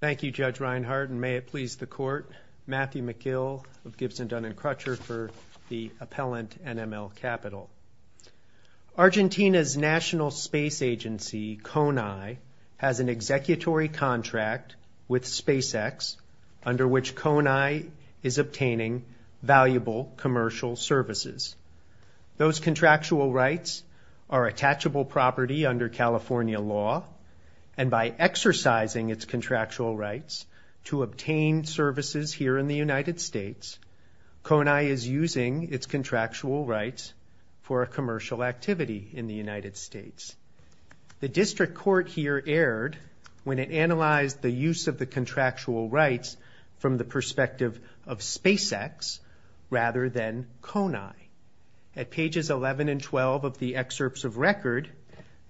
Thank you, Judge Reinhart, and may it please the Court, Matthew McGill of Gibson, Dunn & Crutcher for the appellant NML Capital. Argentina's national space agency, CONAI, has an executory contract with SpaceX, under which CONAI is obtaining valuable commercial services. Those contractual rights are attachable property under California law, and by exercising its contractual rights to obtain services here in the United States, CONAI is using its contractual rights for a commercial activity in the United States. The District Court here erred when it analyzed the use of the contractual rights from the perspective of SpaceX rather than CONAI. At pages 11 and 12 of the excerpts of record,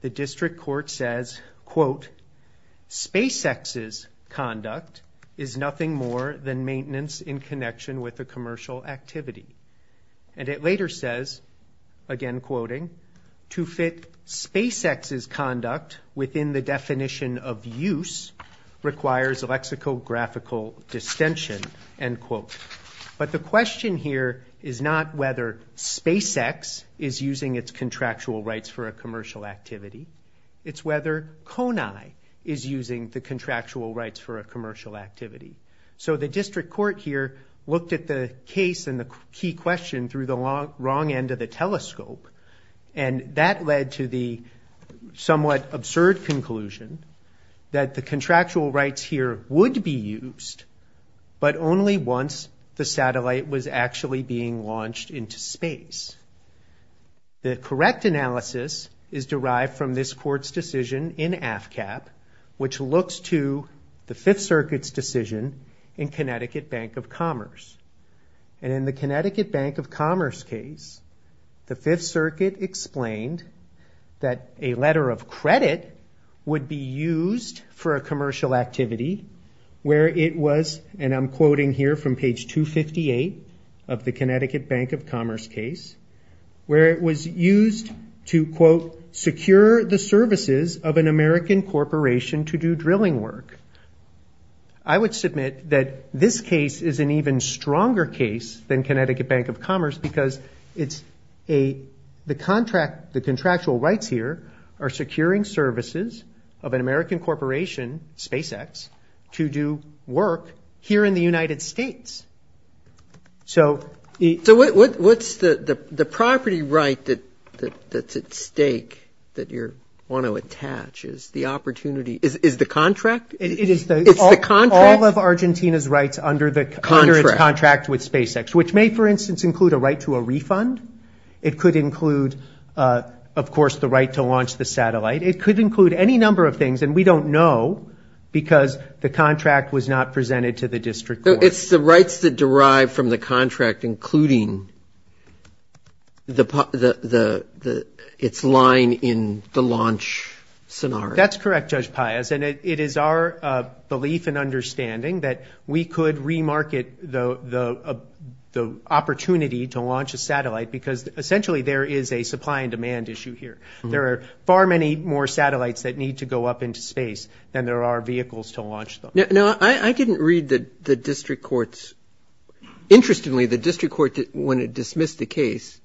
the District Court says, quote, SpaceX's conduct is nothing more than maintenance in connection with a commercial activity. And it later says, again quoting, to fit SpaceX's conduct within the definition of use requires a lexicographical distention, end quote. But the question here is not whether SpaceX is using its contractual rights for a commercial activity. It's whether CONAI is using the contractual rights for a commercial activity. So the District Court here looked at the case and the key question through the wrong end of the telescope, and that led to the somewhat absurd conclusion that the contractual rights here would be used, but only once the satellite was actually being launched into space. The correct analysis is derived from this court's decision in AFCAP, which looks to the Fifth Circuit's decision in Connecticut Bank of Commerce. And in the Connecticut Bank of Commerce case, the Fifth Circuit explained that a letter of credit would be used for a commercial activity where it was, and I'm quoting here from page 258 of the Connecticut Bank of Commerce case, where it was used to, quote, secure the services of an American corporation to do drilling work. I would submit that this case is an even stronger case than Connecticut Bank of Commerce because the contractual rights here are securing services of an American corporation, SpaceX, to do work here in the United States. So what's the property right that's at stake that you want to attach? Is the opportunity – is the contract? It's the contract. All of Argentina's rights under its contract with SpaceX, which may, for instance, include a right to a refund. It could include, of course, the right to launch the satellite. It could include any number of things, and we don't know, because the contract was not presented to the district court. So it's the rights that derive from the contract, including its line in the launch scenario. That's correct, Judge Paius, and it is our belief and understanding that we could re-market the opportunity to launch a satellite because essentially there is a supply and demand issue here. There are far many more satellites that need to go up into space than there are vehicles to launch them. Now, I didn't read the district court's – interestingly, the district court, when it dismissed the case,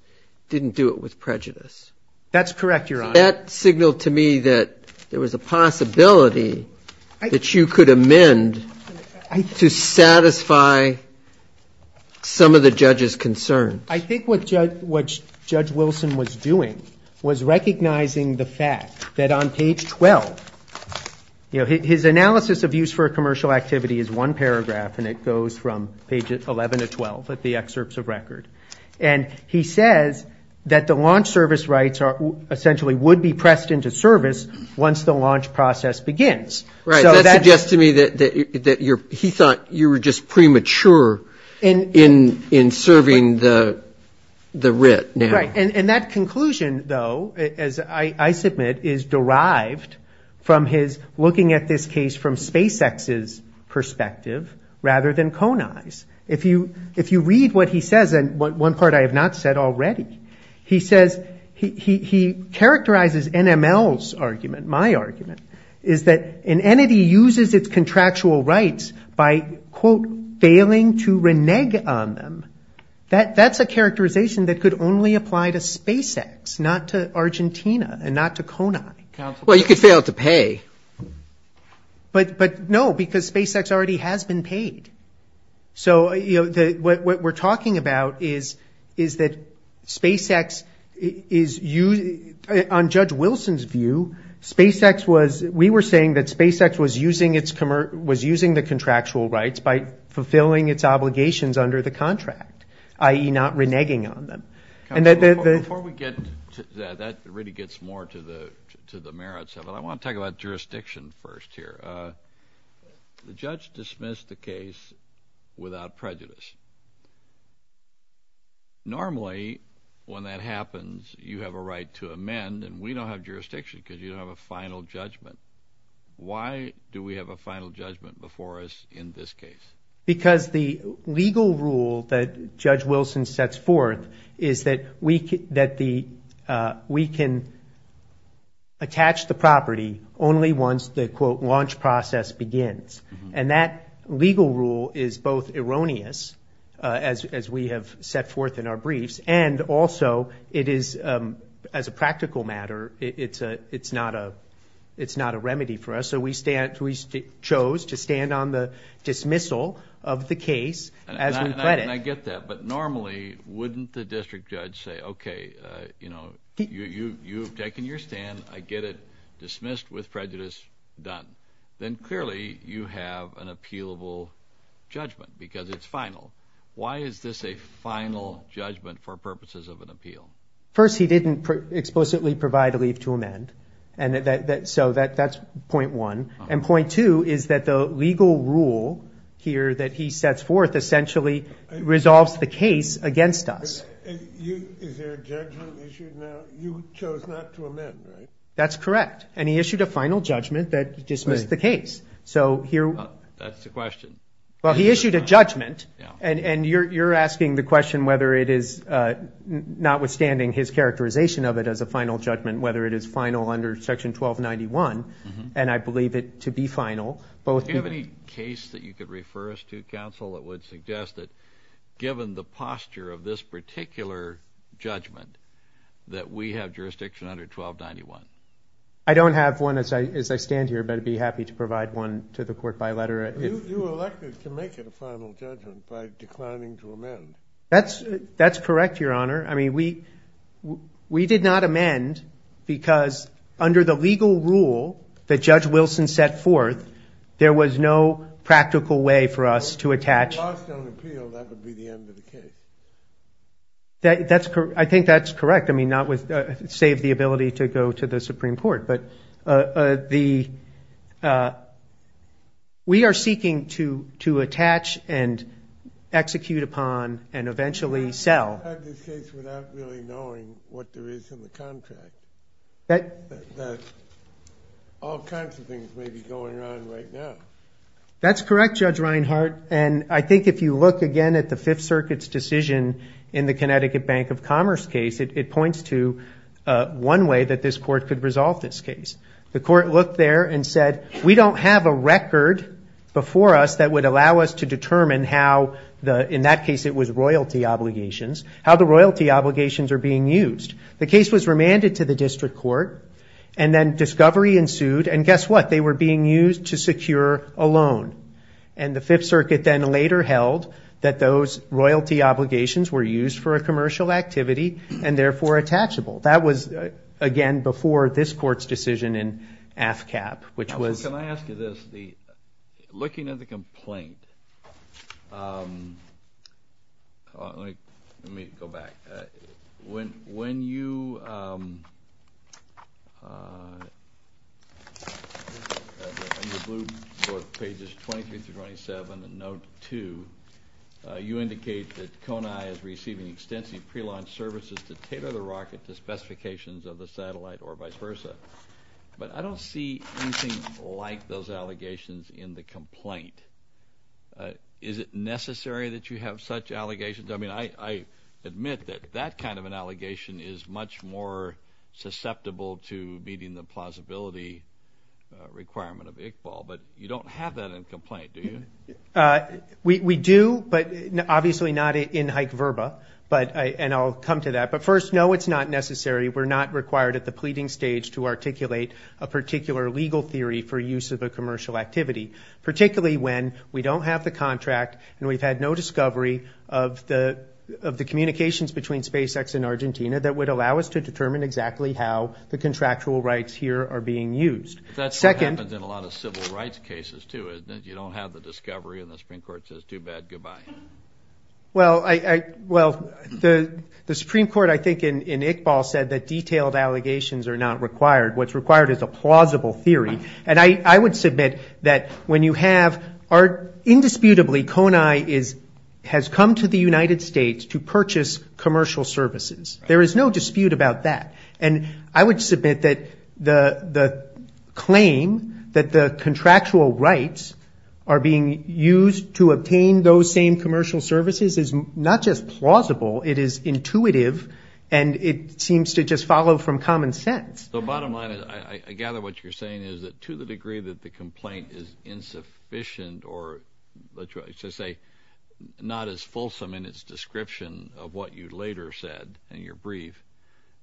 didn't do it with prejudice. That's correct, Your Honor. That signaled to me that there was a possibility that you could amend to satisfy some of the judge's concerns. I think what Judge Wilson was doing was recognizing the fact that on page 12 – you know, his analysis of use for a commercial activity is one paragraph, and it goes from page 11 to 12 of the excerpts of record. And he says that the launch service rights essentially would be pressed into service once the launch process begins. Right. That suggests to me that he thought you were just premature in serving the writ now. Right. And that conclusion, though, as I submit, is derived from his looking at this case from SpaceX's perspective rather than Coney's. If you read what he says, and one part I have not said already, he says – he characterizes NML's argument, my argument, is that an entity uses its contractual rights by, quote, failing to renege on them. That's a characterization that could only apply to SpaceX, not to Argentina and not to Coney. Well, you could fail to pay. But, no, because SpaceX already has been paid. So, you know, what we're talking about is that SpaceX is – on Judge Wilson's view, SpaceX was – we were saying that SpaceX was using its – was using the contractual rights by fulfilling its obligations under the contract, i.e., not reneging on them. Before we get – that really gets more to the merits of it. Well, I want to talk about jurisdiction first here. The judge dismissed the case without prejudice. Normally, when that happens, you have a right to amend, and we don't have jurisdiction because you don't have a final judgment. Why do we have a final judgment before us in this case? Because the legal rule that Judge Wilson sets forth is that we can attach the property only once the, quote, launch process begins. And that legal rule is both erroneous, as we have set forth in our briefs, and also it is – as a practical matter, it's not a remedy for us. So we chose to stand on the dismissal of the case as we credit. And I get that. But normally, wouldn't the district judge say, okay, you know, you've taken your stand. I get it. Dismissed with prejudice. Done. Then clearly you have an appealable judgment because it's final. Why is this a final judgment for purposes of an appeal? First, he didn't explicitly provide a leave to amend. So that's point one. And point two is that the legal rule here that he sets forth essentially resolves the case against us. Is there a judgment issued now? You chose not to amend, right? That's correct. And he issued a final judgment that dismissed the case. That's the question. Well, he issued a judgment, and you're asking the question whether it is, notwithstanding his characterization of it as a final judgment, whether it is final under Section 1291. And I believe it to be final. Do you have any case that you could refer us to, counsel, that would suggest that, given the posture of this particular judgment, that we have jurisdiction under 1291? I don't have one as I stand here, but I'd be happy to provide one to the court by letter. You elected to make it a final judgment by declining to amend. That's correct, Your Honor. I mean, we did not amend because under the legal rule that Judge Wilson set forth, there was no practical way for us to attach. If you lost on appeal, that would be the end of the case. I think that's correct. I mean, save the ability to go to the Supreme Court. But we are seeking to attach and execute upon and eventually sell. You have this case without really knowing what there is in the contract, that all kinds of things may be going on right now. That's correct, Judge Reinhart, and I think if you look again at the Fifth Circuit's decision in the Connecticut Bank of Commerce case, it points to one way that this court could resolve this case. The court looked there and said, we don't have a record before us that would allow us to determine how, in that case it was royalty obligations, how the royalty obligations are being used. The case was remanded to the district court, and then discovery ensued, and guess what? They were being used to secure a loan. And the Fifth Circuit then later held that those royalty obligations were used for a commercial activity and, therefore, attachable. That was, again, before this court's decision in AFCAP, which was... Can I ask you this? Looking at the complaint, let me go back. When you... On the blue board, pages 23 through 27, and note 2, you indicate that CONAI is receiving extensive prelaunch services to tailor the rocket to specifications of the satellite or vice versa. But I don't see anything like those allegations in the complaint. Is it necessary that you have such allegations? I mean, I admit that that kind of an allegation is much more susceptible to meeting the plausibility requirement of IQBAL, but you don't have that in the complaint, do you? We do, but obviously not in hyc verba, and I'll come to that. But, first, no, it's not necessary. We're not required at the pleading stage to articulate a particular legal theory for use of a commercial activity, particularly when we don't have the contract and we've had no discovery of the communications between SpaceX and Argentina that would allow us to determine exactly how the contractual rights here are being used. That's what happens in a lot of civil rights cases, too, is that you don't have the discovery and the Supreme Court says, too bad, goodbye. Well, the Supreme Court, I think, in IQBAL said that detailed allegations are not required. What's required is a plausible theory. And I would submit that when you have, indisputably, Konai has come to the United States to purchase commercial services. There is no dispute about that. And I would submit that the claim that the contractual rights are being used to obtain those same commercial services is not just plausible, it is intuitive, and it seems to just follow from common sense. The bottom line is, I gather what you're saying is that to the degree that the complaint is insufficient or, let's just say, not as fulsome in its description of what you later said in your brief,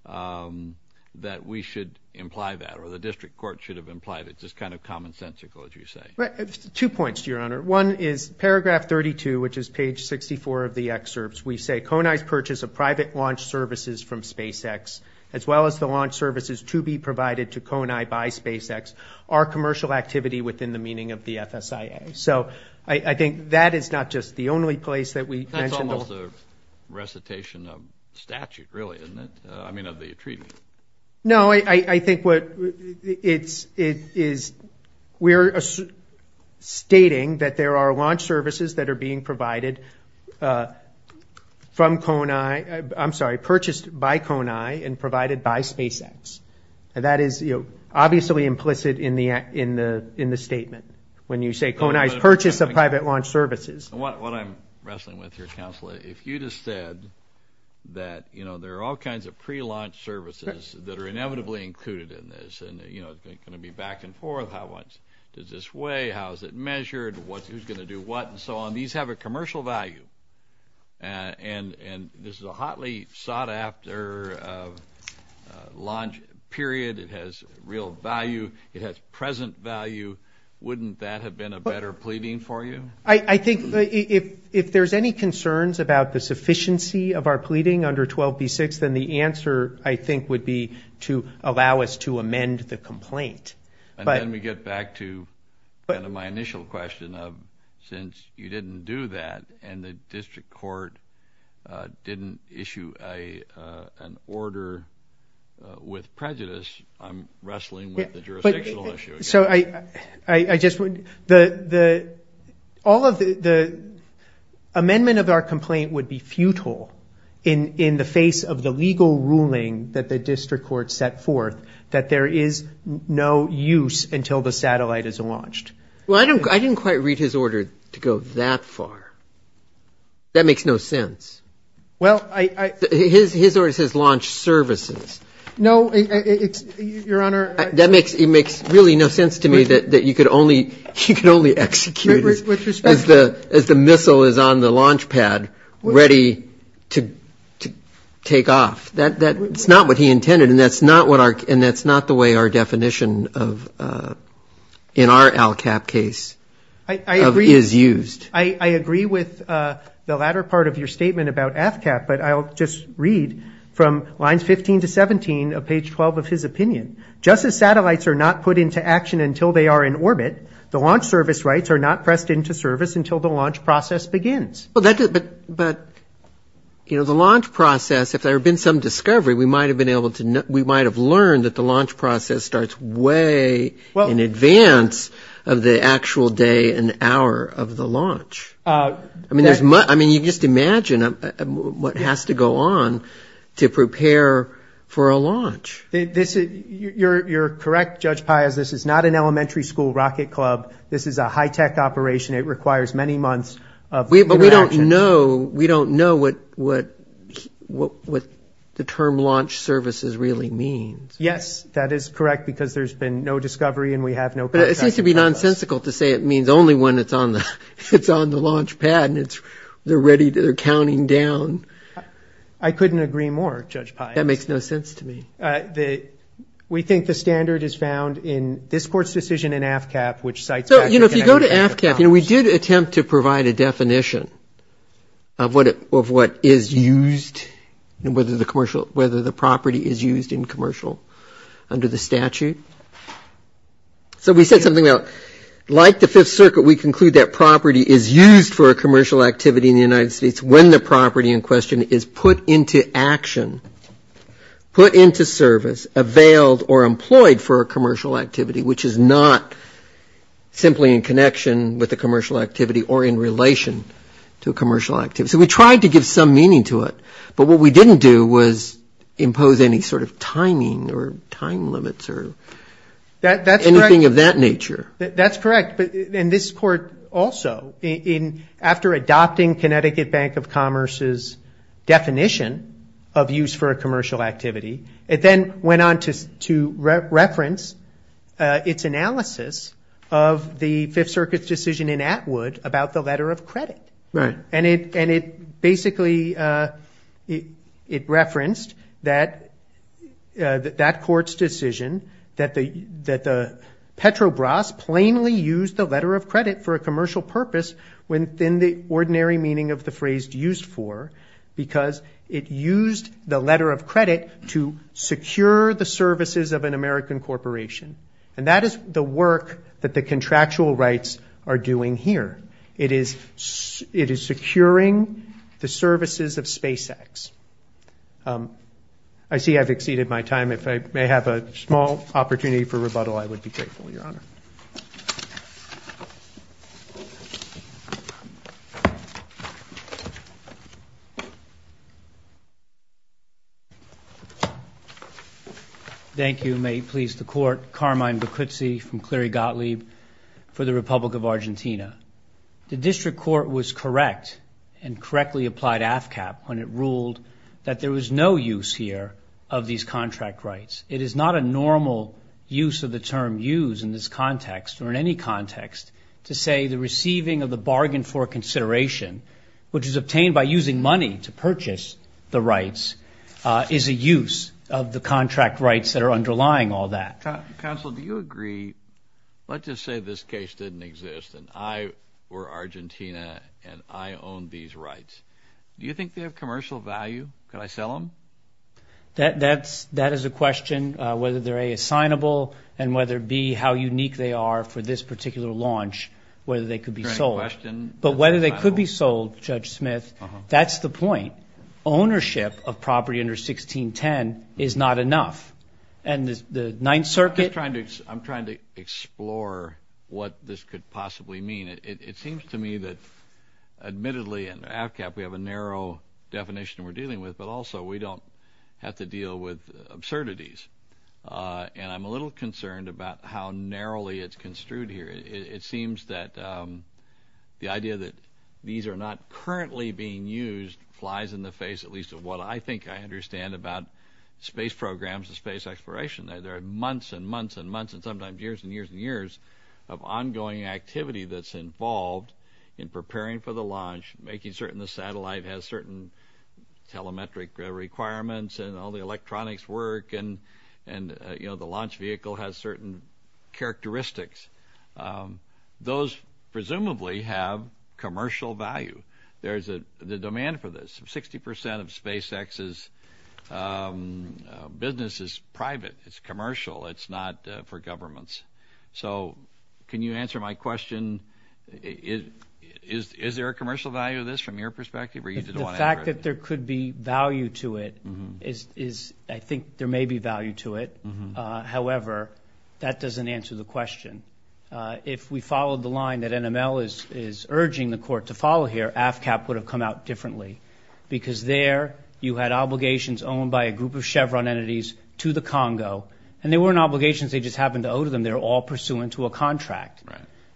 that we should imply that or the district court should have implied it. It's just kind of commonsensical, as you say. Right. Two points, Your Honor. One is paragraph 32, which is page 64 of the excerpts. We say, Konai's purchase of private launch services from SpaceX, as well as the launch services to be provided to Konai by SpaceX, are commercial activity within the meaning of the FSIA. So I think that is not just the only place that we mentioned. That's almost a recitation of statute, really, isn't it? I mean, of the treaty. No, I think what it is, we're stating that there are launch services that are being provided from Konai, I'm sorry, purchased by Konai and provided by SpaceX. And that is obviously implicit in the statement when you say, Konai's purchase of private launch services. What I'm wrestling with here, Counselor, is if you just said that there are all kinds of pre-launch services that are inevitably included in this and they're going to be back and forth, how much does this weigh, how is it measured, who's going to do what, and so on, these have a commercial value. And this is a hotly sought-after launch period. It has real value. It has present value. Wouldn't that have been a better pleading for you? I think if there's any concerns about the sufficiency of our pleading under 12b-6, then the answer, I think, would be to allow us to amend the complaint. And then we get back to kind of my initial question of since you didn't do that and the district court didn't issue an order with prejudice, I'm wrestling with the jurisdictional issue again. All of the amendment of our complaint would be futile in the face of the legal ruling that the district court set forth that there is no use until the satellite is launched. Well, I didn't quite read his order to go that far. That makes no sense. His order says launch services. No, Your Honor. That makes really no sense to me that you could only execute it as the missile is on the launch pad ready to take off. That's not what he intended, and that's not the way our definition in our LCAP case is used. I agree with the latter part of your statement about AFCAP, but I'll just read from lines 15 to 17 of page 12 of his opinion. Just as satellites are not put into action until they are in orbit, the launch service rights are not pressed into service until the launch process begins. But, you know, the launch process, if there had been some discovery, we might have learned that the launch process starts way in advance of the actual day and hour of the launch. I mean, you just imagine what has to go on to prepare for a launch. You're correct, Judge Pius. This is not an elementary school rocket club. This is a high-tech operation. It requires many months of interaction. But we don't know what the term launch services really means. Yes, that is correct because there's been no discovery and we have no contact with the process. It would be nonsensical to say it means only when it's on the launch pad and they're ready, they're counting down. I couldn't agree more, Judge Pius. That makes no sense to me. We think the standard is found in this Court's decision in AFCAP which cites that. So, you know, if you go to AFCAP, you know, we did attempt to provide a definition of what is used, whether the property is used in commercial under the statute. So we said something about like the Fifth Circuit, we conclude that property is used for a commercial activity in the United States when the property in question is put into action, put into service, availed or employed for a commercial activity, which is not simply in connection with a commercial activity or in relation to a commercial activity. So we tried to give some meaning to it. But what we didn't do was impose any sort of timing or time limits or anything of that nature. That's correct. And this Court also, after adopting Connecticut Bank of Commerce's definition of use for a commercial activity, it then went on to reference its analysis of the Fifth Circuit's decision in Atwood about the letter of credit. Right. And it basically referenced that that Court's decision that Petrobras plainly used the letter of credit for a commercial purpose within the ordinary meaning of the phrase used for because it used the letter of credit to secure the services of an American corporation. And that is the work that the contractual rights are doing here. It is securing the services of SpaceX. I see I've exceeded my time. If I may have a small opportunity for rebuttal, I would be grateful, Your Honor. Thank you, Your Honor. Thank you. May it please the Court. Carmine Beccuzzi from Cleary Gottlieb for the Republic of Argentina. The District Court was correct and correctly applied AFCAP when it ruled that there was no use here of these contract rights. It is not a normal use of the term use in this context or in any context to say the receiving of the bargain for consideration, which is obtained by using money to purchase the rights, is a use of the contract rights that are underlying all that. Counsel, do you agree? Let's just say this case didn't exist and I were Argentina and I owned these rights. Do you think they have commercial value? Could I sell them? That is a question. Whether they're A, assignable, and whether B, how unique they are for this particular launch, whether they could be sold. But whether they could be sold, Judge Smith, that's the point. Ownership of property under 1610 is not enough. And the Ninth Circuit – I'm trying to explore what this could possibly mean. It seems to me that admittedly in AFCAP we have a narrow definition we're dealing with, but also we don't have to deal with absurdities. And I'm a little concerned about how narrowly it's construed here. It seems that the idea that these are not currently being used flies in the face, at least of what I think I understand about space programs and space exploration. There are months and months and months and sometimes years and years and years of ongoing activity that's involved in preparing for the launch, making certain the satellite has certain telemetric requirements and all the electronics work and the launch vehicle has certain characteristics. Those presumably have commercial value. There's a demand for this. Sixty percent of SpaceX's business is private. It's commercial. It's not for governments. So can you answer my question? Is there a commercial value to this from your perspective? The fact that there could be value to it is – I think there may be value to it. However, that doesn't answer the question. If we followed the line that NML is urging the court to follow here, AFCAP would have come out differently because there you had obligations owned by a group of Chevron entities to the Congo, and they weren't obligations they just happened to owe to them. They were all pursuant to a contract.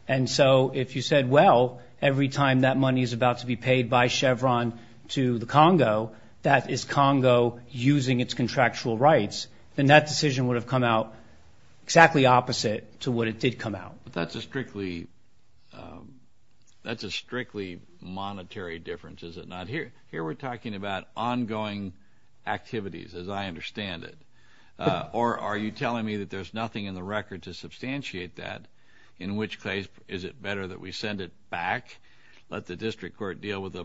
And so if you said, well, every time that money is about to be paid by Chevron to the Congo, that is Congo using its contractual rights, then that decision would have come out exactly opposite to what it did come out. But that's a strictly monetary difference, is it not? Here we're talking about ongoing activities, as I understand it. Or are you telling me that there's nothing in the record to substantiate that, in which case is it better that we send it back, let the district court deal with a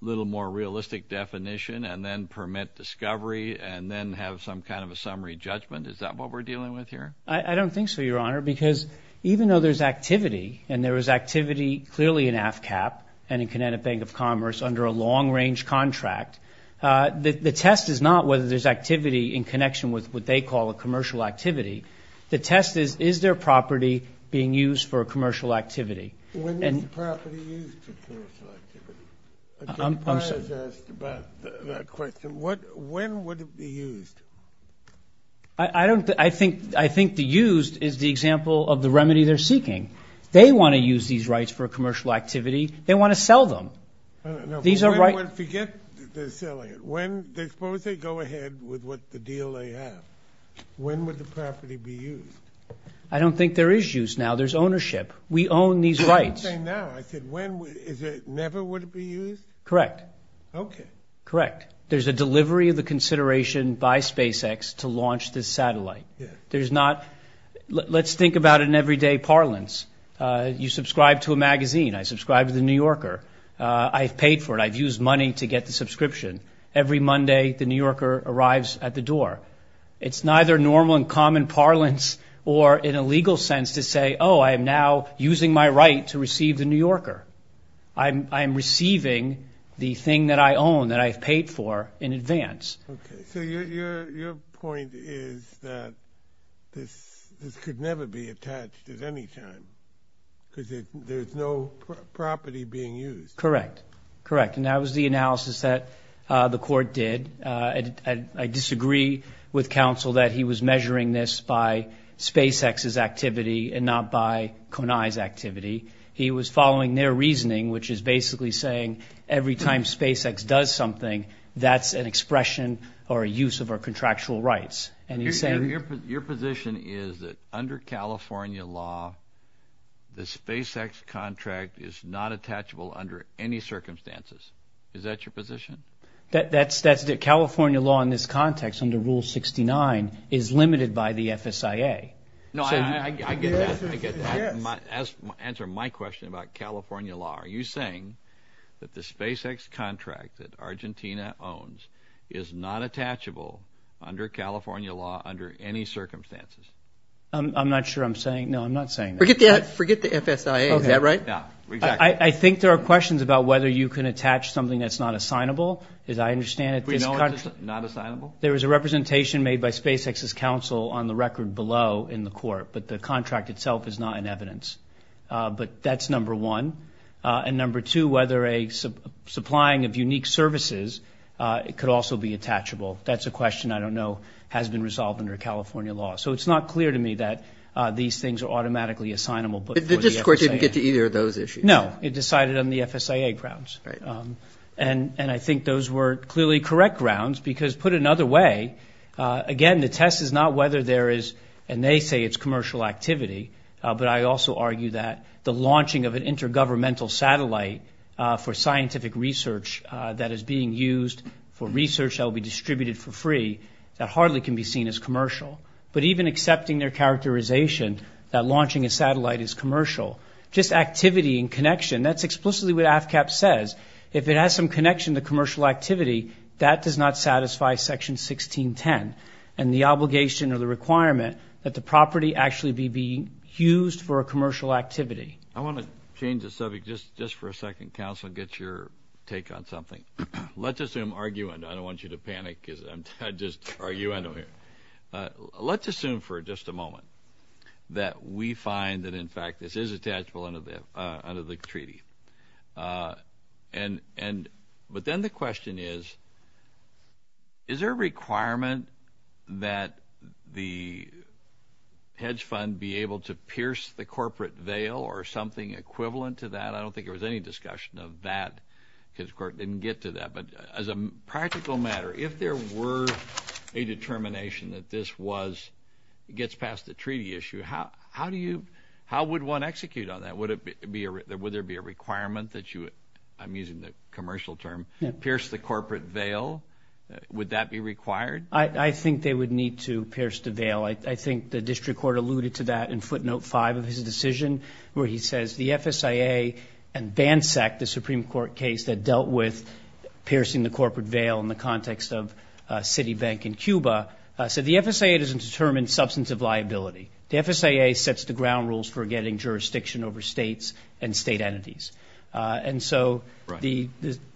little more realistic definition, and then permit discovery, and then have some kind of a summary judgment? Is that what we're dealing with here? I don't think so, Your Honor, because even though there's activity, and there is activity clearly in AFCAP and in Connecticut Bank of Commerce under a long-range contract, the test is not whether there's activity in connection with what they call a commercial activity. The test is, is there property being used for a commercial activity? When is the property used for commercial activity? I'm sorry. I was asked about that question. When would it be used? I think the used is the example of the remedy they're seeking. They want to use these rights for a commercial activity. They want to sell them. Forget they're selling it. Suppose they go ahead with the deal they have. When would the property be used? I don't think there is use now. There's ownership. We own these rights. I didn't say now. I said when. Is it never would it be used? Correct. Okay. Correct. There's a delivery of the consideration by SpaceX to launch this satellite. There's not. Let's think about an everyday parlance. You subscribe to a magazine. I subscribe to The New Yorker. I've paid for it. I've used money to get the subscription. Every Monday, The New Yorker arrives at the door. It's neither normal in common parlance or in a legal sense to say, oh, I am now using my right to receive The New Yorker. I am receiving the thing that I own that I've paid for in advance. Okay. So your point is that this could never be attached at any time because there's no property being used. Correct. Correct. And that was the analysis that the court did. I disagree with counsel that he was measuring this by SpaceX's activity and not by Konai's activity. He was following their reasoning, which is basically saying every time SpaceX does something, that's an expression or a use of our contractual rights. Your position is that under California law, the SpaceX contract is not attachable under any circumstances. Is that your position? That's the California law in this context under Rule 69 is limited by the FSIA. No, I get that. Answer my question about California law. Are you saying that the SpaceX contract that Argentina owns is not attachable under California law under any circumstances? I'm not sure I'm saying. No, I'm not saying that. Forget the FSIA. Is that right? Yeah, exactly. I think there are questions about whether you can attach something that's not assignable. As I understand it, there is a representation made by SpaceX's counsel on the record below in the court, but the contract itself is not in evidence. But that's number one. And number two, whether a supplying of unique services could also be attachable. That's a question I don't know has been resolved under California law. So it's not clear to me that these things are automatically assignable. But this court didn't get to either of those issues. No, it decided on the FSIA grounds. And I think those were clearly correct grounds because, put another way, again, the test is not whether there is, and they say it's commercial activity, but I also argue that the launching of an intergovernmental satellite for scientific research that is being used for research that will be distributed for free, that hardly can be seen as commercial. But even accepting their characterization that launching a satellite is commercial, just activity and connection, that's explicitly what AFCAP says. If it has some connection to commercial activity, that does not satisfy Section 1610 and the obligation or the requirement that the property actually be used for a commercial activity. I want to change the subject just for a second, counsel, and get your take on something. Let's assume, argue, and I don't want you to panic because I just argue anyway. Let's assume for just a moment that we find that, in fact, this is attachable under the treaty. But then the question is, is there a requirement that the hedge fund be able to pierce the corporate veil or something equivalent to that? I don't think there was any discussion of that because the court didn't get to that. But as a practical matter, if there were a determination that this gets past the treaty issue, how would one execute on that? Would there be a requirement that you, I'm using the commercial term, pierce the corporate veil? Would that be required? I think they would need to pierce the veil. I think the district court alluded to that in footnote 5 of his decision where he says the FSIA and BANSEC, the Supreme Court case that dealt with piercing the corporate veil in the context of Citibank in Cuba, said the FSIA doesn't determine substantive liability. The FSIA sets the ground rules for getting jurisdiction over states and state entities. And so the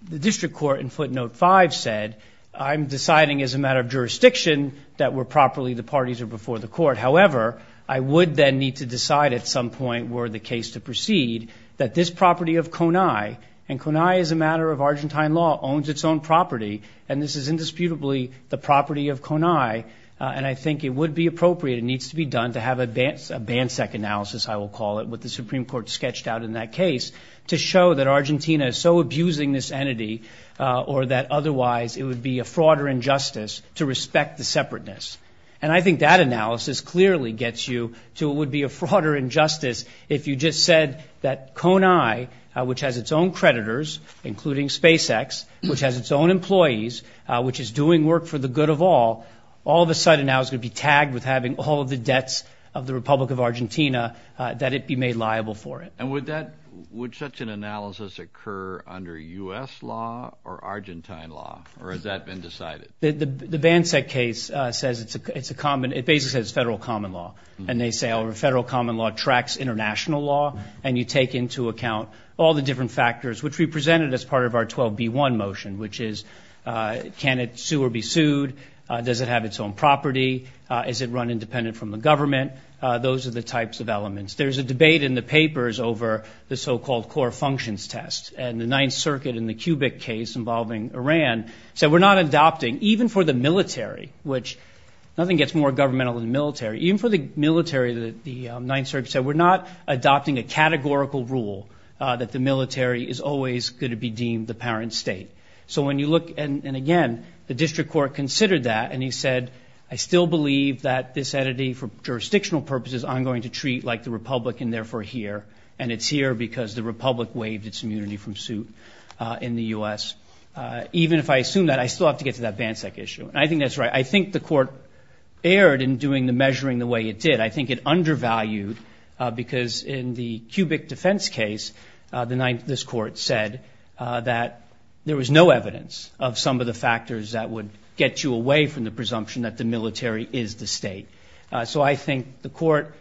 district court in footnote 5 said, I'm deciding as a matter of jurisdiction that were properly the parties are before the court. However, I would then need to decide at some point were the case to proceed that this property of Conay, and Conay is a matter of Argentine law, owns its own property. And this is indisputably the property of Conay. And I think it would be appropriate, it needs to be done, to have a BANSEC analysis, I will call it, what the Supreme Court sketched out in that case, to show that Argentina is so abusing this entity or that otherwise it would be a fraud or injustice to respect the separateness. And I think that analysis clearly gets you to what would be a fraud or injustice if you just said that Conay, which has its own creditors, including SpaceX, which has its own employees, which is doing work for the good of all, all of a sudden now is going to be tagged with having all of the debts of the Republic of Argentina, that it be made liable for it. And would that, would such an analysis occur under U.S. law or Argentine law, or has that been decided? The BANSEC case says it's a common, it basically says it's federal common law, and they say our federal common law tracks international law and you take into account all the different factors, which we presented as part of our 12B1 motion, which is can it sue or be sued, does it have its own property, is it run independent from the government, those are the types of elements. There's a debate in the papers over the so-called core functions test, and the Ninth Circuit in the Kubik case involving Iran said we're not adopting, even for the military, which nothing gets more governmental than the military, even for the military, the Ninth Circuit said we're not adopting a categorical rule that the military is always going to be deemed the parent state. So when you look, and again, the district court considered that and he said, I still believe that this entity, for jurisdictional purposes, I'm going to treat like the republic and therefore here, and it's here because the republic waived its immunity from suit in the U.S. Even if I assume that, I still have to get to that BANSEC issue. And I think that's right. I think the court erred in doing the measuring the way it did. I think it undervalued because in the Kubik defense case, this court said that there was no evidence of some of the factors that would get you away from the presumption that the military is the state. So I think the court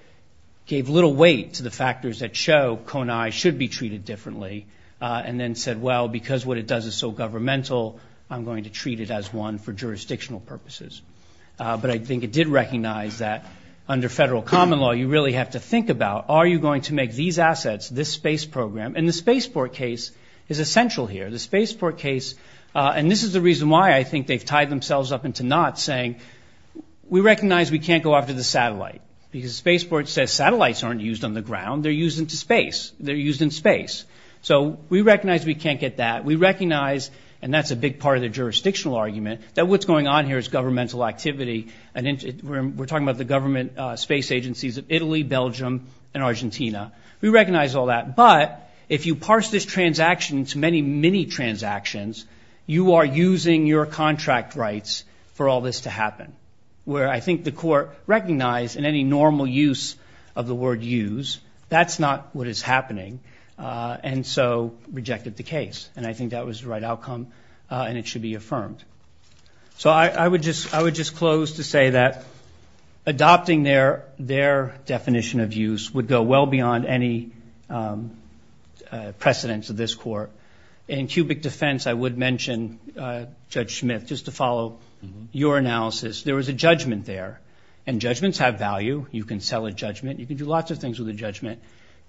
gave little weight to the factors that show Konai should be treated differently and then said, well, because what it does is so governmental, I'm going to treat it as one for jurisdictional purposes. But I think it did recognize that under federal common law, you really have to think about, are you going to make these assets, this space program, and the spaceport case is essential here. The spaceport case, and this is the reason why I think they've tied themselves up into knots, saying we recognize we can't go after the satellite because the spaceport says satellites aren't used on the ground. They're used into space. They're used in space. So we recognize we can't get that. We recognize, and that's a big part of the jurisdictional argument, that what's going on here is governmental activity. We're talking about the government space agencies of Italy, Belgium, and Argentina. We recognize all that. But if you parse this transaction into many, many transactions, you are using your contract rights for all this to happen, where I think the court recognized in any normal use of the word use, that's not what is happening, and so rejected the case. And I think that was the right outcome, and it should be affirmed. So I would just close to say that adopting their definition of use would go well beyond any precedence of this court. In cubic defense, I would mention, Judge Smith, just to follow your analysis, there was a judgment there. And judgments have value. You can sell a judgment. You can do lots of things with a judgment.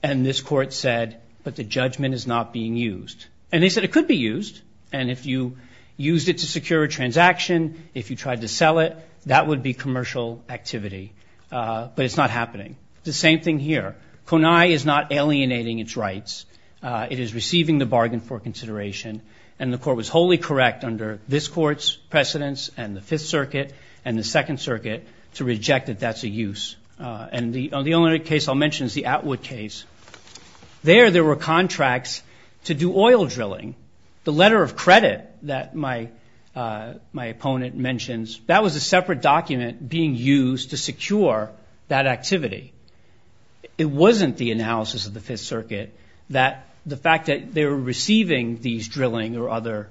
And this court said, but the judgment is not being used. And they said it could be used. And if you used it to secure a transaction, if you tried to sell it, that would be commercial activity. But it's not happening. The same thing here. Conai is not alienating its rights. It is receiving the bargain for consideration. And the court was wholly correct under this court's precedence and the Fifth Circuit and the Second Circuit to reject that that's a use. And the only other case I'll mention is the Atwood case. There, there were contracts to do oil drilling. The letter of credit that my opponent mentions, that was a separate document being used to secure that activity. It wasn't the analysis of the Fifth Circuit that the fact that they were receiving these drilling or other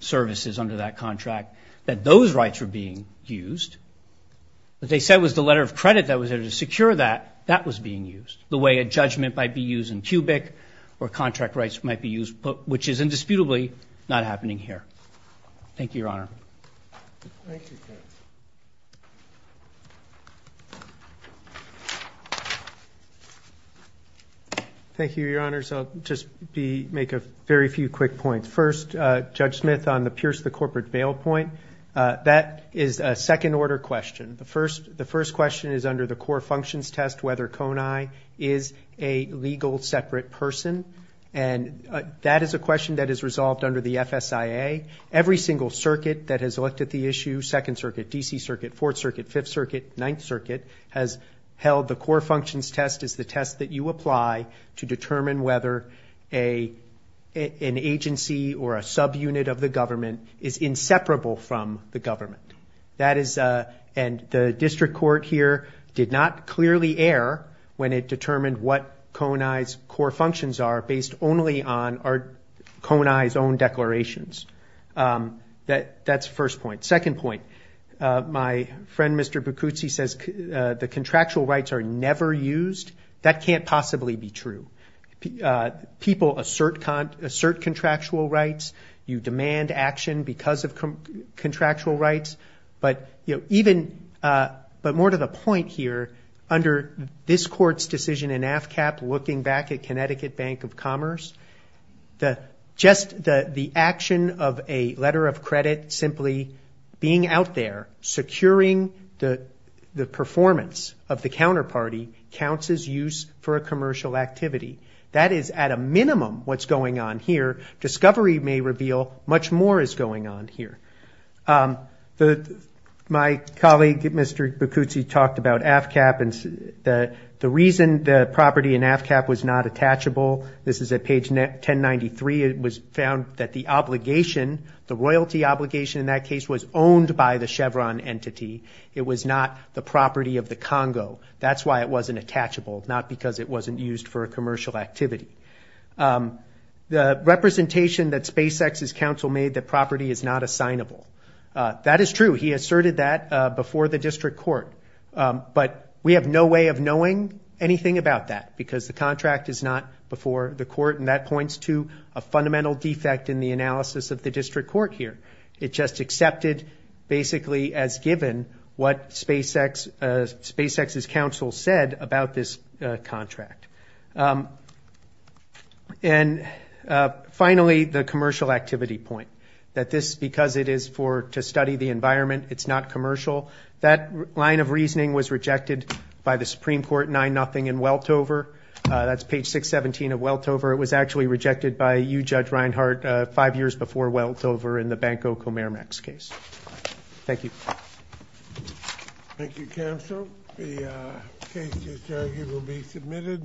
services under that contract, that those rights were being used. What they said was the letter of credit that was there to secure that, that was being used. The way a judgment might be used in cubic or contract rights might be used, which is indisputably not happening here. Thank you, Your Honor. Thank you, Judge. Thank you, Your Honors. I'll just make a very few quick points. First, Judge Smith on the Pierce v. Corporate bail point. That is a second-order question. The first question is under the core functions test whether Conai is a legal separate person. And that is a question that is resolved under the FSIA. Every single circuit that has looked at the issue, Second Circuit, D.C. Circuit, Fourth Circuit, Fifth Circuit, Ninth Circuit, has held the core functions test as the test that you apply to determine whether an agency or a subunit of the government is inseparable from the government. And the district court here did not clearly err when it determined what Conai's core functions are, based only on Conai's own declarations. That's the first point. Second point, my friend, Mr. Bucuzzi, says the contractual rights are never used. That can't possibly be true. People assert contractual rights. You demand action because of contractual rights. But more to the point here, under this court's decision in AFCAP looking back at Connecticut Bank of Commerce, just the action of a letter of credit simply being out there securing the performance of the counterparty for a commercial activity. That is, at a minimum, what's going on here. Discovery may reveal much more is going on here. My colleague, Mr. Bucuzzi, talked about AFCAP and the reason the property in AFCAP was not attachable. This is at page 1093. It was found that the obligation, the royalty obligation in that case, was owned by the Chevron entity. It was not the property of the Congo. That's why it wasn't attachable, not because it wasn't used for a commercial activity. The representation that SpaceX's counsel made that property is not assignable, that is true. He asserted that before the district court. But we have no way of knowing anything about that because the contract is not before the court, and that points to a fundamental defect in the analysis of the district court here. It just accepted basically as given what SpaceX's counsel said about this contract. And finally, the commercial activity point, that this, because it is to study the environment, it's not commercial. That line of reasoning was rejected by the Supreme Court 9-0 in Weltover. That's page 617 of Weltover. It was actually rejected by you, Judge Reinhart, five years before Weltover in the Banco Comerimax case. Thank you. Thank you, counsel. The case is, it will be submitted.